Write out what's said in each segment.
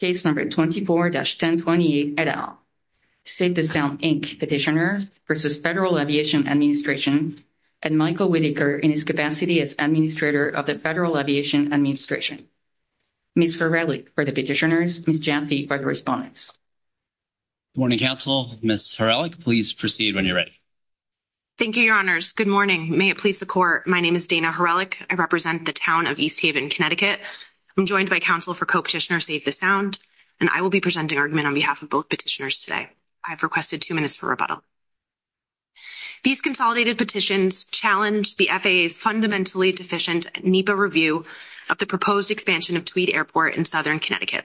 Case No. 24-1028, et al. Save the Sound, Inc. Petitioner v. Federal Aviation Administration and Michael Whitaker in his capacity as Administrator of the Federal Aviation Administration. Ms. Horelic for the Petitioners, Ms. Jaffe for the Respondents. Good morning, Council. Ms. Horelic, please proceed when you're ready. Thank you, Your Honors. Good morning. May it please the Court, my name is Dana Horelic. I represent the Town of East Haven, Connecticut. I'm joined by Council for Co-Petitioner Save the Sound, and I will be presenting argument on behalf of both petitioners today. I've requested two minutes for rebuttal. These consolidated petitions challenge the FAA's fundamentally deficient NEPA review of the proposed expansion of Tweed Airport in Southern Connecticut.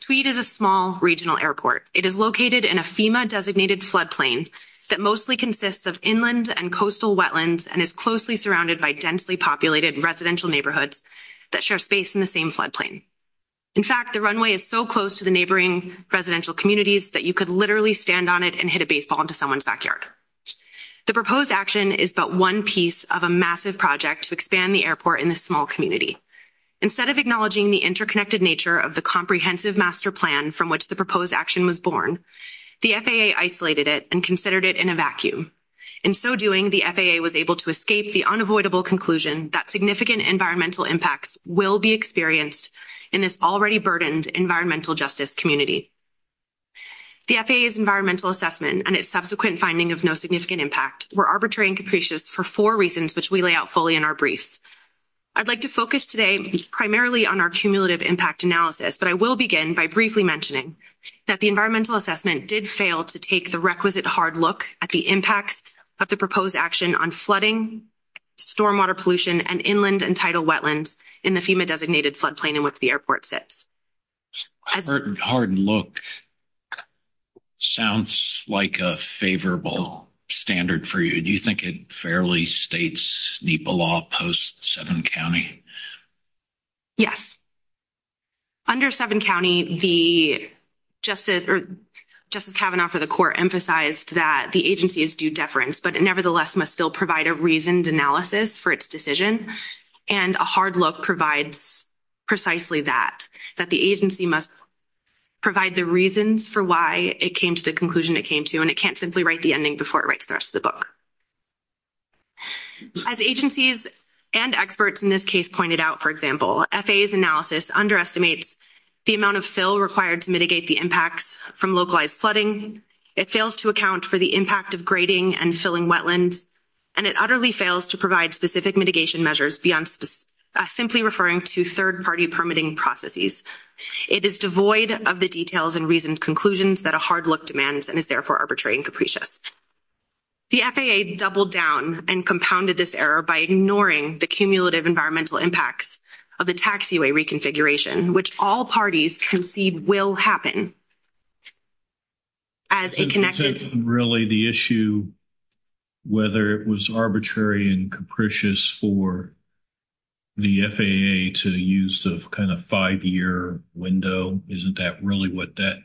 Tweed is a small regional airport. It is located in a FEMA-designated floodplain that mostly consists of inland and coastal wetlands and is closely surrounded by densely populated residential neighborhoods that share space in the same floodplain. In fact, the runway is so close to the neighboring residential communities that you could literally stand on it and hit a baseball into someone's backyard. The proposed action is but one piece of a massive project to expand the airport in this small community. Instead of acknowledging the interconnected nature of the comprehensive master plan from which the proposed action was born, the FAA isolated it and considered it in a vacuum. In so doing, the FAA was able to escape the unavoidable conclusion that significant environmental impacts will be experienced in this already burdened environmental justice community. The FAA's environmental assessment and its subsequent finding of no significant impact were arbitrary and capricious for four reasons which we lay out fully in our briefs. I'd like to focus today primarily on our cumulative impact analysis, but I will begin by briefly mentioning that the environmental assessment did fail to take the requisite hard look at the impacts of the proposed action on flooding, stormwater pollution, and inland and wetlands in the FEMA-designated floodplain in which the airport sits. Hardened look sounds like a favorable standard for you. Do you think it fairly states NEPA law post-Seven County? Yes. Under Seven County, the Justice Kavanaugh for the court emphasized that the agency is due deference, but it nevertheless must still provide a reasoned analysis for its decision, and a hard look provides precisely that, that the agency must provide the reasons for why it came to the conclusion it came to, and it can't simply write the ending before it writes the rest of the book. As agencies and experts in this case pointed out, for example, FAA's analysis underestimates the amount of fill required to mitigate the impacts from localized flooding. It fails to account for the impact of grading and filling wetlands, and it utterly fails to provide specific mitigation measures beyond simply referring to third-party permitting processes. It is devoid of the details and reasoned conclusions that a hard look demands and is therefore arbitrary and capricious. The FAA doubled down and compounded this error by ignoring the cumulative environmental impacts of the taxiway reconfiguration, which all parties concede will happen as a connected... Really the issue, whether it was arbitrary and capricious for the FAA to use the kind of five-year window, isn't that really what that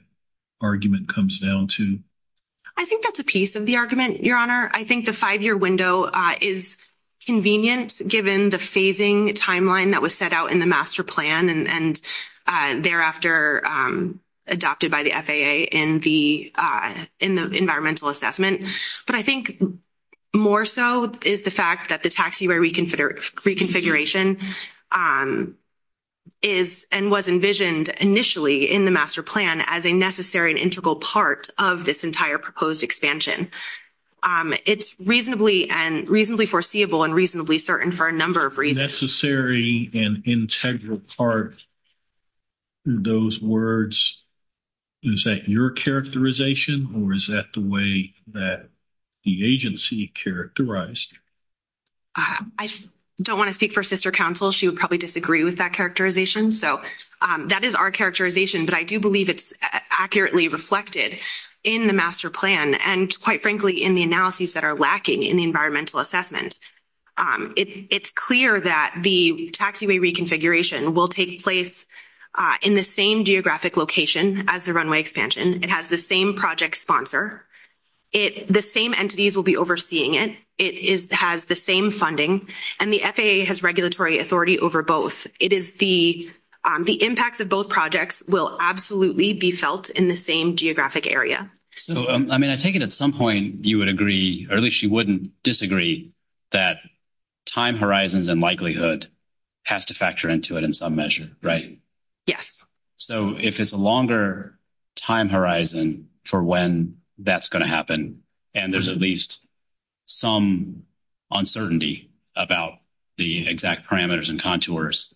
argument comes down to? I think that's a piece of the argument, Your Honor. I think the five-year window is convenient given the phasing timeline that was set out in the master plan, and thereafter adopted by the FAA in the environmental assessment. But I think more so is the fact that the taxiway reconfiguration is and was envisioned initially in the master plan as a necessary and integral part of this entire proposed expansion. It's reasonably foreseeable and reasonably certain for a number of reasons. Necessary and integral part, those words, is that your characterization or is that the way that the agency characterized? I don't want to speak for sister counsel. She would probably disagree with that characterization. So that is our characterization, but I do believe it's accurately reflected in the master plan and quite frankly in the analyses that are lacking in the environmental assessment. It's clear that the taxiway reconfiguration will take place in the same geographic location as the runway expansion. It has the same project sponsor. The same entities will be overseeing it. It has the same funding, and the FAA has regulatory authority over both. The impacts of both projects will absolutely be felt in the same geographic area. So, I mean, I take it at some point you would or at least you wouldn't disagree that time horizons and likelihood has to factor into it in some measure, right? Yes. So, if it's a longer time horizon for when that's going to happen and there's at least some uncertainty about the exact parameters and contours,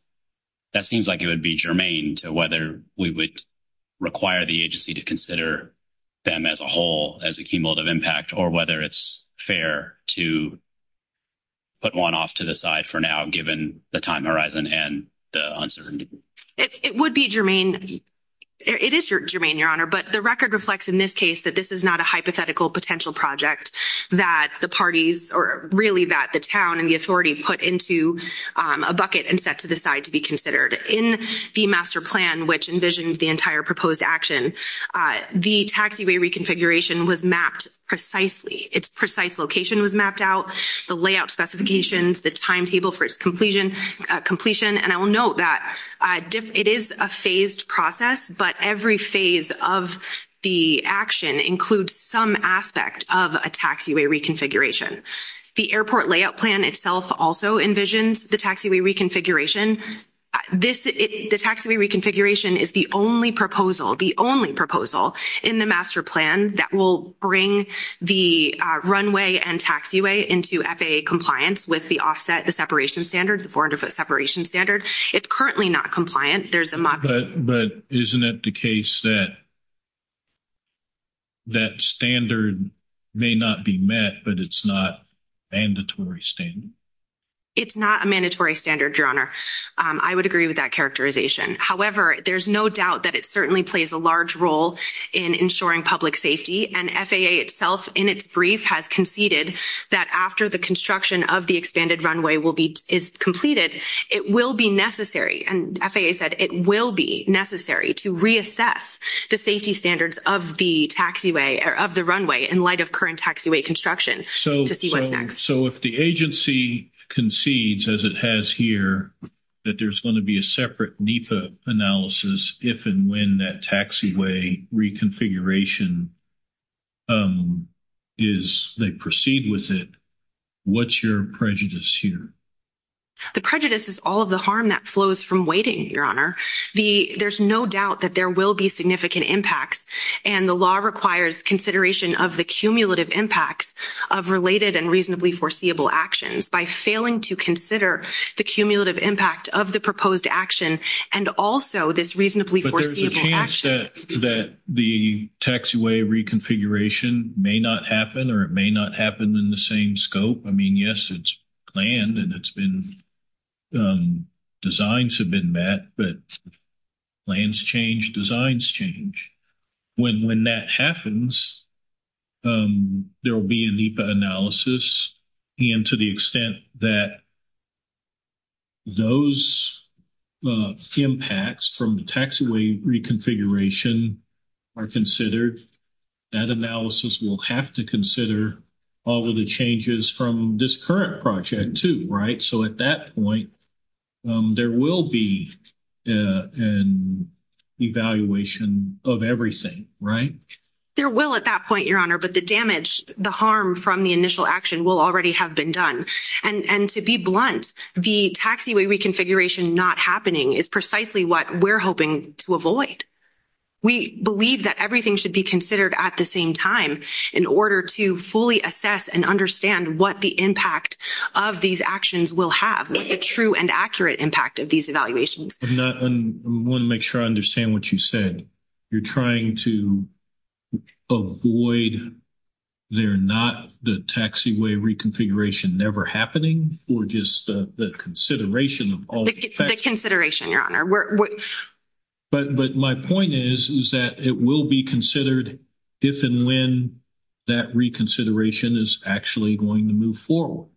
that seems like it would be germane to whether we would require the agency to consider them as a whole as a cumulative impact or whether it's fair to put one off to the side for now given the time horizon and the uncertainty. It would be germane. It is germane, Your Honor, but the record reflects in this case that this is not a hypothetical potential project that the parties or really that the town and the authority put into a bucket and set to the side to be considered. In the master plan, which envisions the entire proposed action, the taxiway reconfiguration was mapped precisely. Its precise location was mapped out, the layout specifications, the timetable for its completion, and I will note that it is a phased process, but every phase of the action includes some aspect of a taxiway reconfiguration. The airport layout plan itself also envisions the taxiway reconfiguration. This, the taxiway reconfiguration is the only proposal, the only proposal in the master plan that will bring the runway and taxiway into FAA compliance with the offset, the separation standard, the 400-foot separation standard. It's currently not compliant. There's a model. But isn't it the case that that standard may not be met, but it's not mandatory standard? It's not a mandatory standard, Your Honor. I would agree with that characterization. However, there's no doubt that it certainly plays a large role in ensuring public safety, and FAA itself in its brief has conceded that after the construction of the expanded runway is completed, it will be necessary, and FAA said it will be necessary to reassess the safety standards of the taxiway or of the runway in light of current taxiway construction to see what's next. So if the agency concedes, as it has here, that there's going to be a separate NEPA analysis if and when that taxiway reconfiguration is, they proceed with it, what's your prejudice here? The prejudice is all of the harm that flows from waiting, Your Honor. There's no doubt that there will be significant impacts, and the law requires consideration of the cumulative impacts of related and reasonably foreseeable actions by failing to consider the cumulative impact of the proposed action and also this reasonably foreseeable action. But there's a chance that the taxiway reconfiguration may not happen or it may not happen in the same scope. I mean, yes, it's planned and it's been, designs have been met, but plans change, designs change. When that happens, there will be a NEPA analysis, and to the extent that those impacts from the taxiway reconfiguration are considered, that analysis will have to consider all of the changes from this current project too, right? So at that point, there will be an evaluation of everything, right? There will at that point, Your Honor, but the damage, the harm from the initial action will already have been done. And to be blunt, the taxiway reconfiguration not happening is precisely what we're hoping to avoid. We believe that everything should be considered at the same time in order to fully assess and understand what the impact of these actions will have, the true and accurate impact of these evaluations. I want to make sure I understand what you said. You're trying to avoid, they're not the taxiway reconfiguration never happening, or just the consideration of all the facts? The consideration, Your Honor. But my point is, is that it will be considered if and when that reconsideration is actually going to move forward.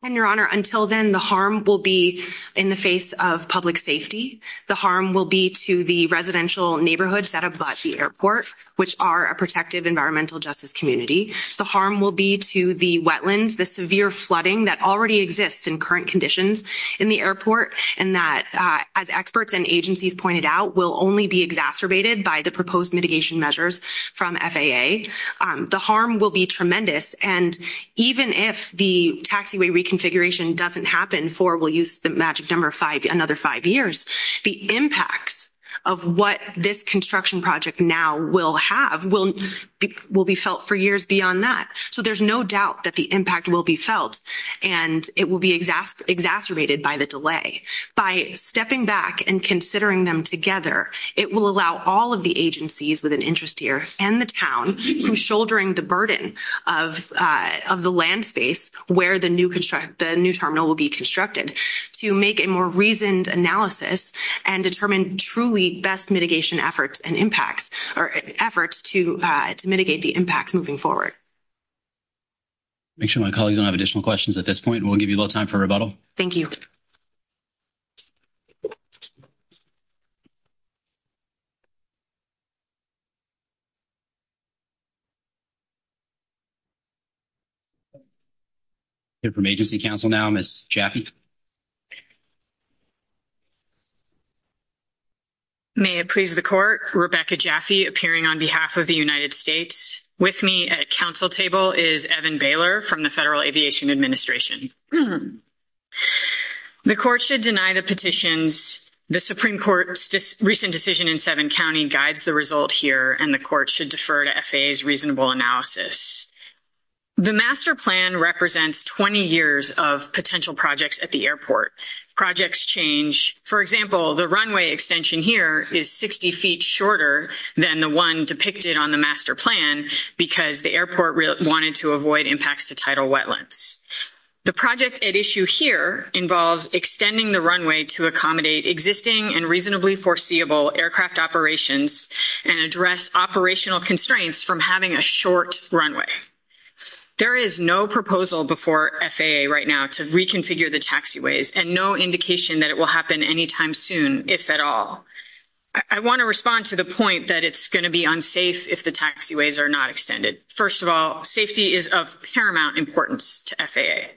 And Your Honor, until then, the harm will be in the face of public safety. The harm will be to the residential neighborhoods that abut the airport, which are a protective environmental justice community. The harm will be to the wetlands, the severe flooding that already exists in current conditions in the airport. And that, as experts and agencies pointed out, will only be exacerbated by the proposed mitigation measures from FAA. The harm will be tremendous. And even if the taxiway reconfiguration doesn't happen, we'll use the magic number, another five years, the impacts of what this construction project now will have will be felt for years beyond that. So there's no doubt that the impact will be felt, and it will be exacerbated by the delay. By stepping back and considering them together, it will allow all of the agencies with an interest here, and the town, who's shouldering the burden of the land space where the new terminal will be constructed, to make a more reasoned analysis and determine truly best mitigation efforts and impacts or efforts to mitigate the impacts moving forward. Make sure my colleagues don't have additional questions at this point. We'll give you a little time for rebuttal. Thank you. We'll hear from agency counsel now, Ms. Jaffe. May it please the court, Rebecca Jaffe, appearing on behalf of the United States. With me at counsel table is Evan Baylor from the Federal Aviation Administration. The court should deny the petitions. The Supreme Court's recent decision in Sevin County guides the result here, and the court should defer to FAA's reasonable analysis. The master plan represents 20 years of potential projects at the airport. Projects change. For example, the runway extension here is 60 feet shorter than the one depicted on the master plan because the airport wanted to avoid impacts to tidal wetlands. The project at issue here involves extending the runway to accommodate existing and reasonably foreseeable aircraft operations and address operational constraints from having a short runway. There is no proposal before FAA right now to reconfigure the taxiways, and no indication that it will happen any time soon, if at all. I want to respond to the point that it's going to be unsafe if the taxiways are not extended. First of all, safety is of paramount importance to FAA.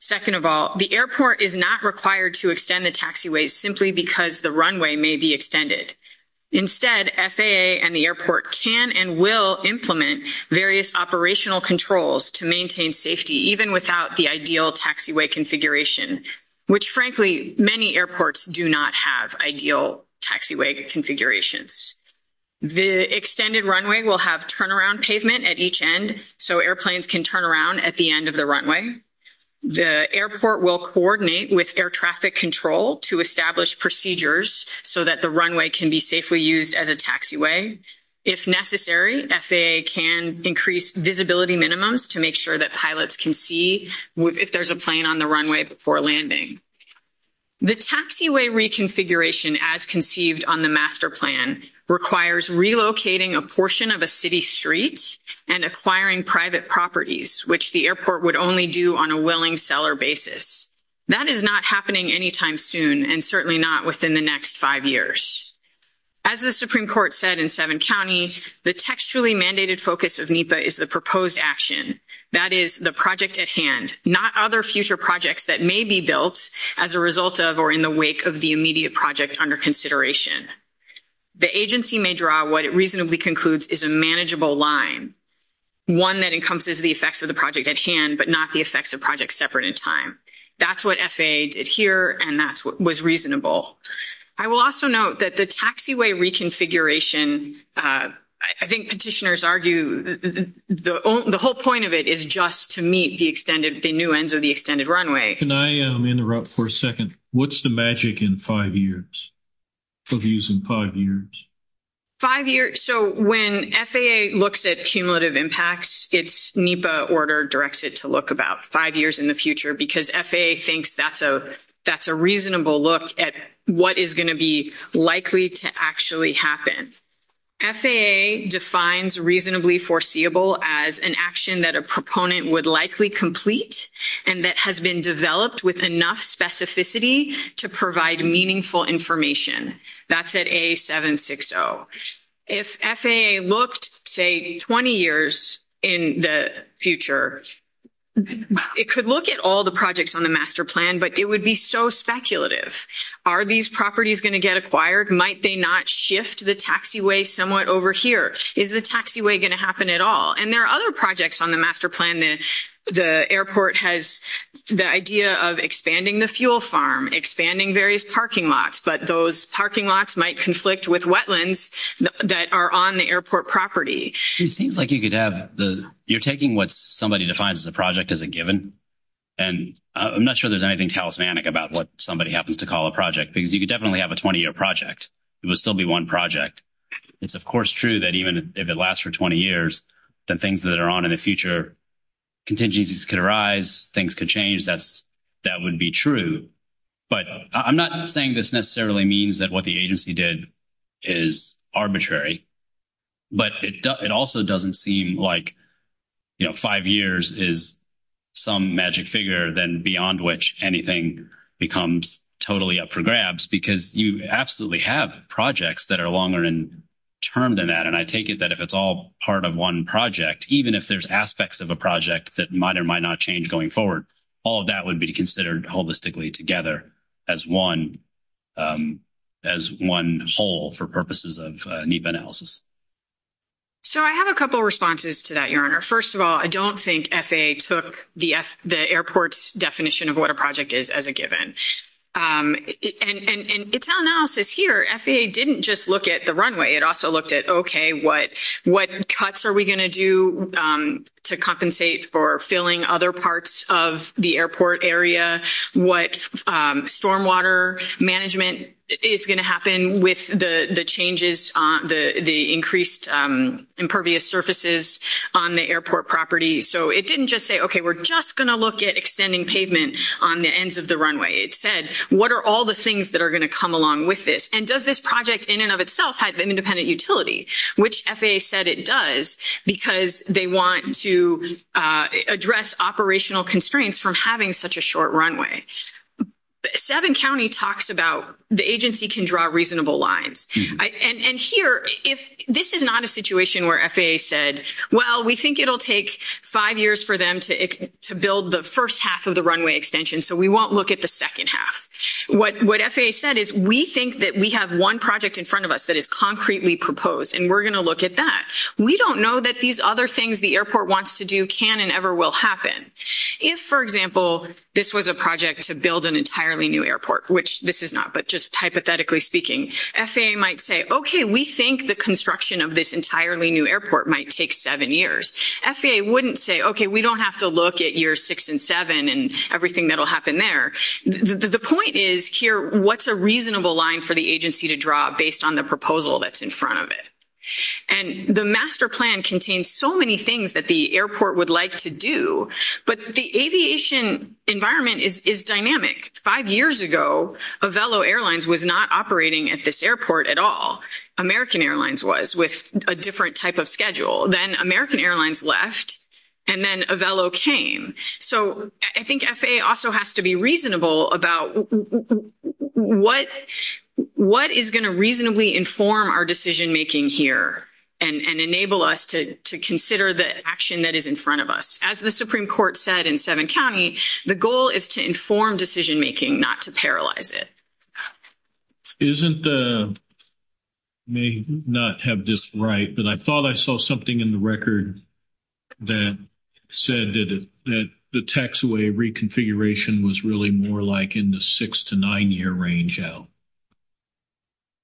Second of all, the airport is not required to extend the taxiways simply because the runway may be extended. Instead, FAA and the airport can and will implement various operational controls to maintain safety, even without the ideal taxiway configuration, which, frankly, many airports do not have ideal taxiway configurations. The extended runway will have turnaround pavement at each end so airplanes can turn around at the end of the runway. The airport will coordinate with air so that the runway can be safely used as a taxiway. If necessary, FAA can increase visibility minimums to make sure that pilots can see if there's a plane on the runway before landing. The taxiway reconfiguration as conceived on the master plan requires relocating a portion of a city street and acquiring private properties, which the airport would only do on a willing basis. That is not happening anytime soon and certainly not within the next five years. As the Supreme Court said in Sevin County, the textually mandated focus of NEPA is the proposed action, that is, the project at hand, not other future projects that may be built as a result of or in the wake of the immediate project under consideration. The agency may draw what it reasonably concludes is a manageable line, one that encompasses the effects of the project at hand but not the effects of projects separate in time. That's what FAA did here and that's what was reasonable. I will also note that the taxiway reconfiguration, I think petitioners argue the whole point of it is just to meet the extended, the new ends of the extended runway. Can I interrupt for a second? What's the magic in five years, for views in five years? Five years, so when FAA looks at cumulative impacts, it's NEPA order directs it to look about five years in the future because FAA thinks that's a reasonable look at what is going to be likely to actually happen. FAA defines reasonably foreseeable as an action that a proponent would likely complete and that has been developed with enough specificity to provide meaningful information. That's at A760. If FAA looked, say, 20 years in the future, it could look at all the projects on the master plan but it would be so speculative. Are these properties going to get acquired? Might they not shift the taxiway somewhat over here? Is the taxiway going to happen at all? And there are other projects on the master plan that the airport has the idea of expanding the fuel farm, expanding various parking lots, but those parking lots might conflict with wetlands that are on the airport property. It seems like you could have the, you're taking what somebody defines as a project as a given and I'm not sure there's anything talismanic about what somebody happens to call a project because you could definitely have a 20-year project. It would still be one project. It's of course true that even if it lasts for 20 years, the things that are on in the future, contingencies could arise, things could change. That would be true. But I'm not saying this necessarily means that what the agency did is arbitrary, but it also doesn't seem like, you know, five years is some magic figure then beyond which anything becomes totally up for grabs because you absolutely have projects that are longer in term than that and I if it's all part of one project, even if there's aspects of a project that might or might not change going forward, all of that would be considered holistically together as one whole for purposes of NEPA analysis. So I have a couple of responses to that, Your Honor. First of all, I don't think FAA took the airport's definition of what a project is as a given. And it's all analysis here. FAA didn't just look at the runway. It also looked at, what cuts are we going to do to compensate for filling other parts of the airport area? What stormwater management is going to happen with the changes, the increased impervious surfaces on the airport property? So it didn't just say, okay, we're just going to look at extending pavement on the ends of the runway. It said, what are all the things that are going to come along with this? And does this project in and of itself have independent utility, which FAA said it does because they want to address operational constraints from having such a short runway. Seven County talks about the agency can draw reasonable lines. And here, if this is not a situation where FAA said, well, we think it'll take five years for them to build the first half of the runway extension, so we won't look at the second half. What FAA said is, we think that we have one project in front of us that is concretely proposed, and we're going to look at that. We don't know that these other things the airport wants to do can and ever will happen. If, for example, this was a project to build an entirely new airport, which this is not, but just hypothetically speaking, FAA might say, okay, we think the construction of this entirely new airport might take seven years. FAA wouldn't say, okay, we don't have to look at years six and seven and everything that'll happen there. The point is here, what's a reasonable line for the agency to draw based on the proposal that's in front of it? And the master plan contains so many things that the airport would like to do, but the aviation environment is dynamic. Five years ago, Avelo Airlines was not operating at this airport at all. American Airlines was, with a different type of schedule. Then American Airlines left, and then Avelo came. So I think FAA also has to be reasonable about what is going to reasonably inform our decision-making here and enable us to consider the action that is in front of us. As the Supreme Court said in Sevin County, the goal is to inform decision-making, not to paralyze it. Isn't the, may not have this right, but I thought I saw something in the record that said that the taxaway reconfiguration was really more like in the six to nine year range out.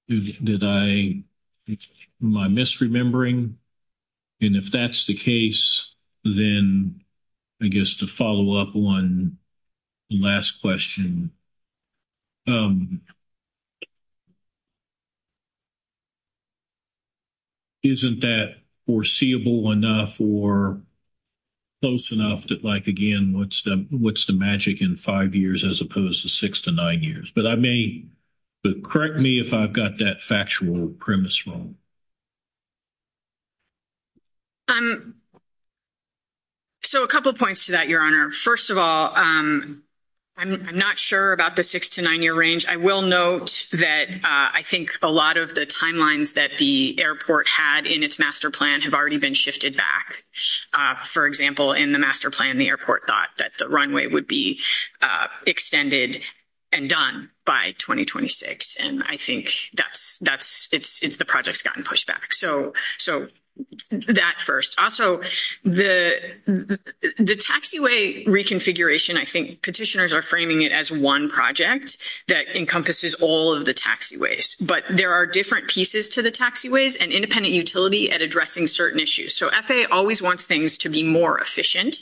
Did I, am I misremembering? And if that's the case, then I guess to follow up on the last question, isn't that foreseeable enough or close enough that like, again, what's the magic in five years as opposed to six to nine years? But I may, correct me if I've got that factual premise wrong. So a couple of points to that, Your Honor. First of all, I'm not sure about the six to nine year range. I will note that I think a lot of the timelines that the airport had in its master plan have already been shifted back. For example, in the master plan, the airport thought that the runway would be extended and done by 2026. And I think that's, that's, it's, the project's gotten pushed back. So, so that first, also the taxiway reconfiguration, I think petitioners are framing it as one project that encompasses all of the taxiways, but there are different pieces to the taxiways and independent utility at addressing certain issues. So FAA always wants things to be more efficient.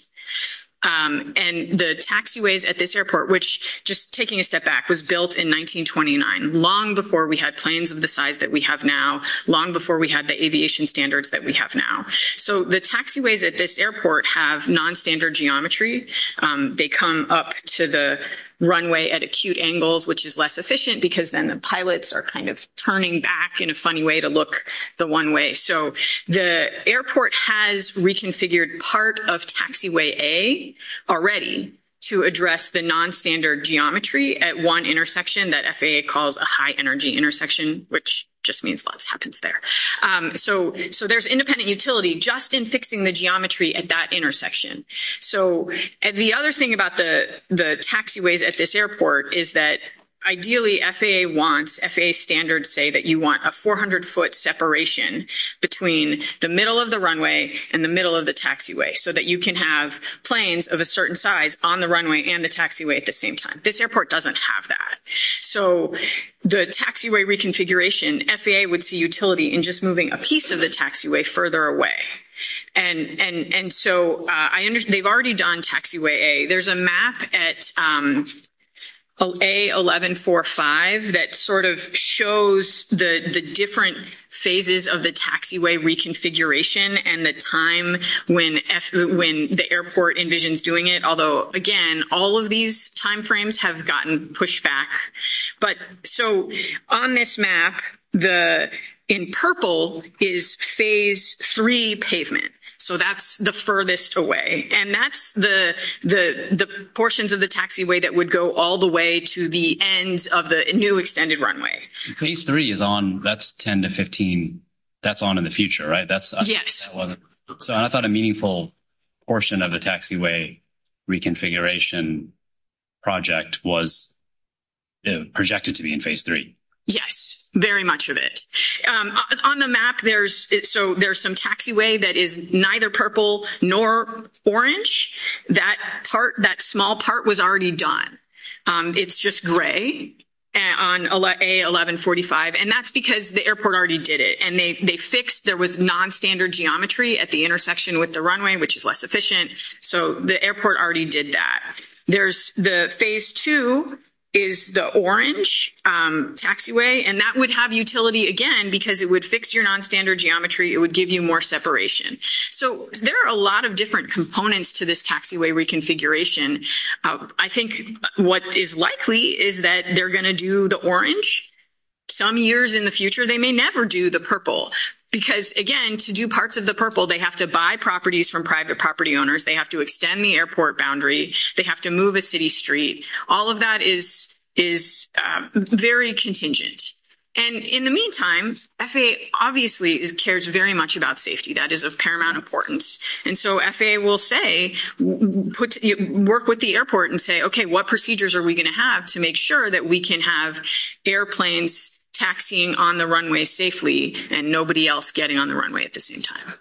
And the taxiways at this airport, which just taking a step back was built in 1929, long before we had planes of the size that we have now, long before we had the aviation standards that we have now. So the taxiways at this airport have non-standard geometry. They come up to the runway at acute angles, which is less efficient because then the pilots are kind of turning back in a funny way to look the one way. So the airport has reconfigured part of taxiway A already to address the non-standard geometry at one intersection that FAA calls a high energy intersection, which just means lots happens there. So, so there's independent utility just in fixing the geometry at that intersection. So, and the other thing about the, the taxiways at this airport is that ideally FAA wants FAA standards say that you want a 400 foot separation between the middle of the runway and the middle of the taxiway so that you can have planes of a certain size on the runway and the taxiway at the same time. This airport doesn't have that. So the taxiway reconfiguration, FAA would see utility in just moving a piece of the taxiway further away. And, and, and so I understand they've already done taxiway A. There's a map at A1145 that sort of shows the, the different phases of the taxiway reconfiguration and the time when when the airport envisions doing it. Although again, all of these timeframes have gotten pushed back, but so on this map, the in purple is phase three pavement. So that's the furthest away and that's the, the, the portions of the taxiway that would go all the way to the end of the new extended runway. Phase three is on, that's 10 to 15. That's on in the future, right? That's, so I thought a meaningful portion of the taxiway reconfiguration project was projected to be in phase three. Yes, very much of it. On the map there's, so there's some taxiway that is neither purple nor orange. That part, that small part was already done. It's just gray on A1145 and that's because the airport already did it and they, they fixed, there was non-standard geometry at the intersection with the runway, which is less efficient. So the airport already did that. There's the phase two is the orange taxiway and that would have utility again because it would fix your non-standard geometry. It would give you more separation. So there are a lot of different components to this taxiway reconfiguration. I think what is likely is that they're going to do the orange some years in the future. They may never do the purple because again, to do parts of the purple, they have to buy properties from private property owners. They have to extend the airport boundary. They have to move a city street. All of that is, is very contingent. And in the meantime, FAA obviously cares very much about safety. That is of paramount importance. And so FAA will say, put, work with the airport and say, okay, what procedures are we going to have to make sure that we can have airplanes taxiing on the runway safely and nobody else getting on the runway at the same time?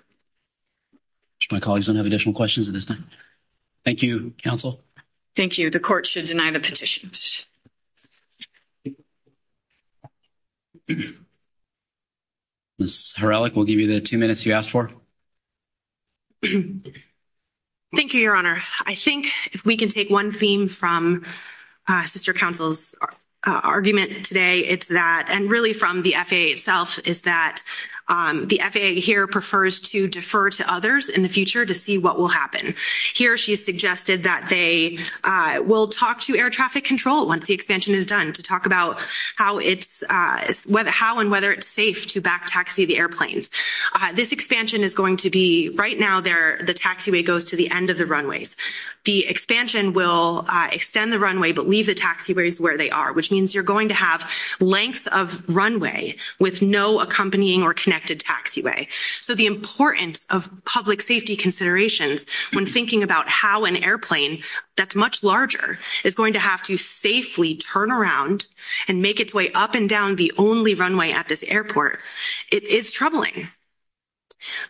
My colleagues don't have additional questions at this time. Thank you, counsel. Thank you. The court should deny the petitions. Ms. Horelick, we'll give you the two minutes you asked for. Thank you, your honor. I think if we can take one theme from sister counsel's argument today, it's that, and really from the FAA itself, is that the FAA here prefers to defer to others in the future to see what will happen. Here, she suggested that they will talk to air traffic control once the expansion is done to talk about how and whether it's safe to back taxi the airplanes. This expansion is going to be, right now, the taxiway goes to the end of the runways. The expansion will extend the runway, but leave the taxiways where they are, which means you're going to have lengths of runway with no accompanying or connected taxiway. So the importance of public safety considerations when thinking about how an airplane that's much larger is going to have to safely turn around and make its way up and down the only runway at this airport, it is troubling.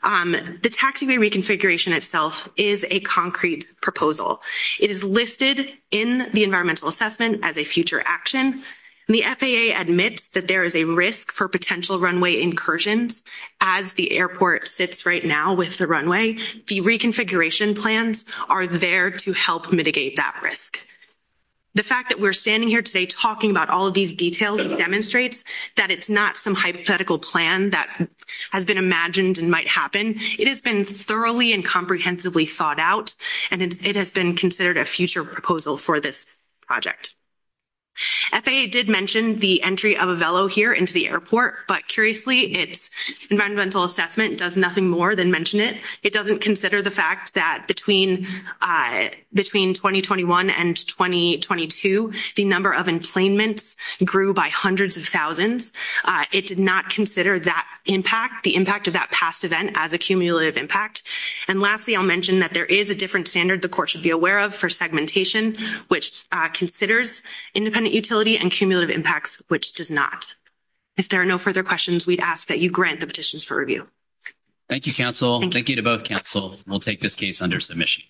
The taxiway reconfiguration itself is a concrete proposal. It is listed in the environmental assessment as a future action. The FAA admits that there is a risk for potential runway incursions as the airport sits right now with the runway. The reconfiguration plans are there to help mitigate that risk. The fact that we're standing here today talking about all of these details demonstrates that it's not some hypothetical plan that has been imagined and might happen. It has been thoroughly and comprehensively thought out, and it has been considered a future proposal for this project. FAA did mention the entry of a velo here into the airport, but curiously, its environmental assessment does nothing more than mention it. It doesn't consider the fact that between 2021 and 2022, the number of employments grew by hundreds of thousands. It did not consider that impact, the impact of that past event as a cumulative impact. And lastly, I'll mention that there is a different standard the court should be aware of for segmentation, which considers independent utility and cumulative impacts, which does not. If there are no further questions, we'd ask that you grant the petitions for review. Thank you, counsel. Thank you to both counsel. We'll take this case under submission.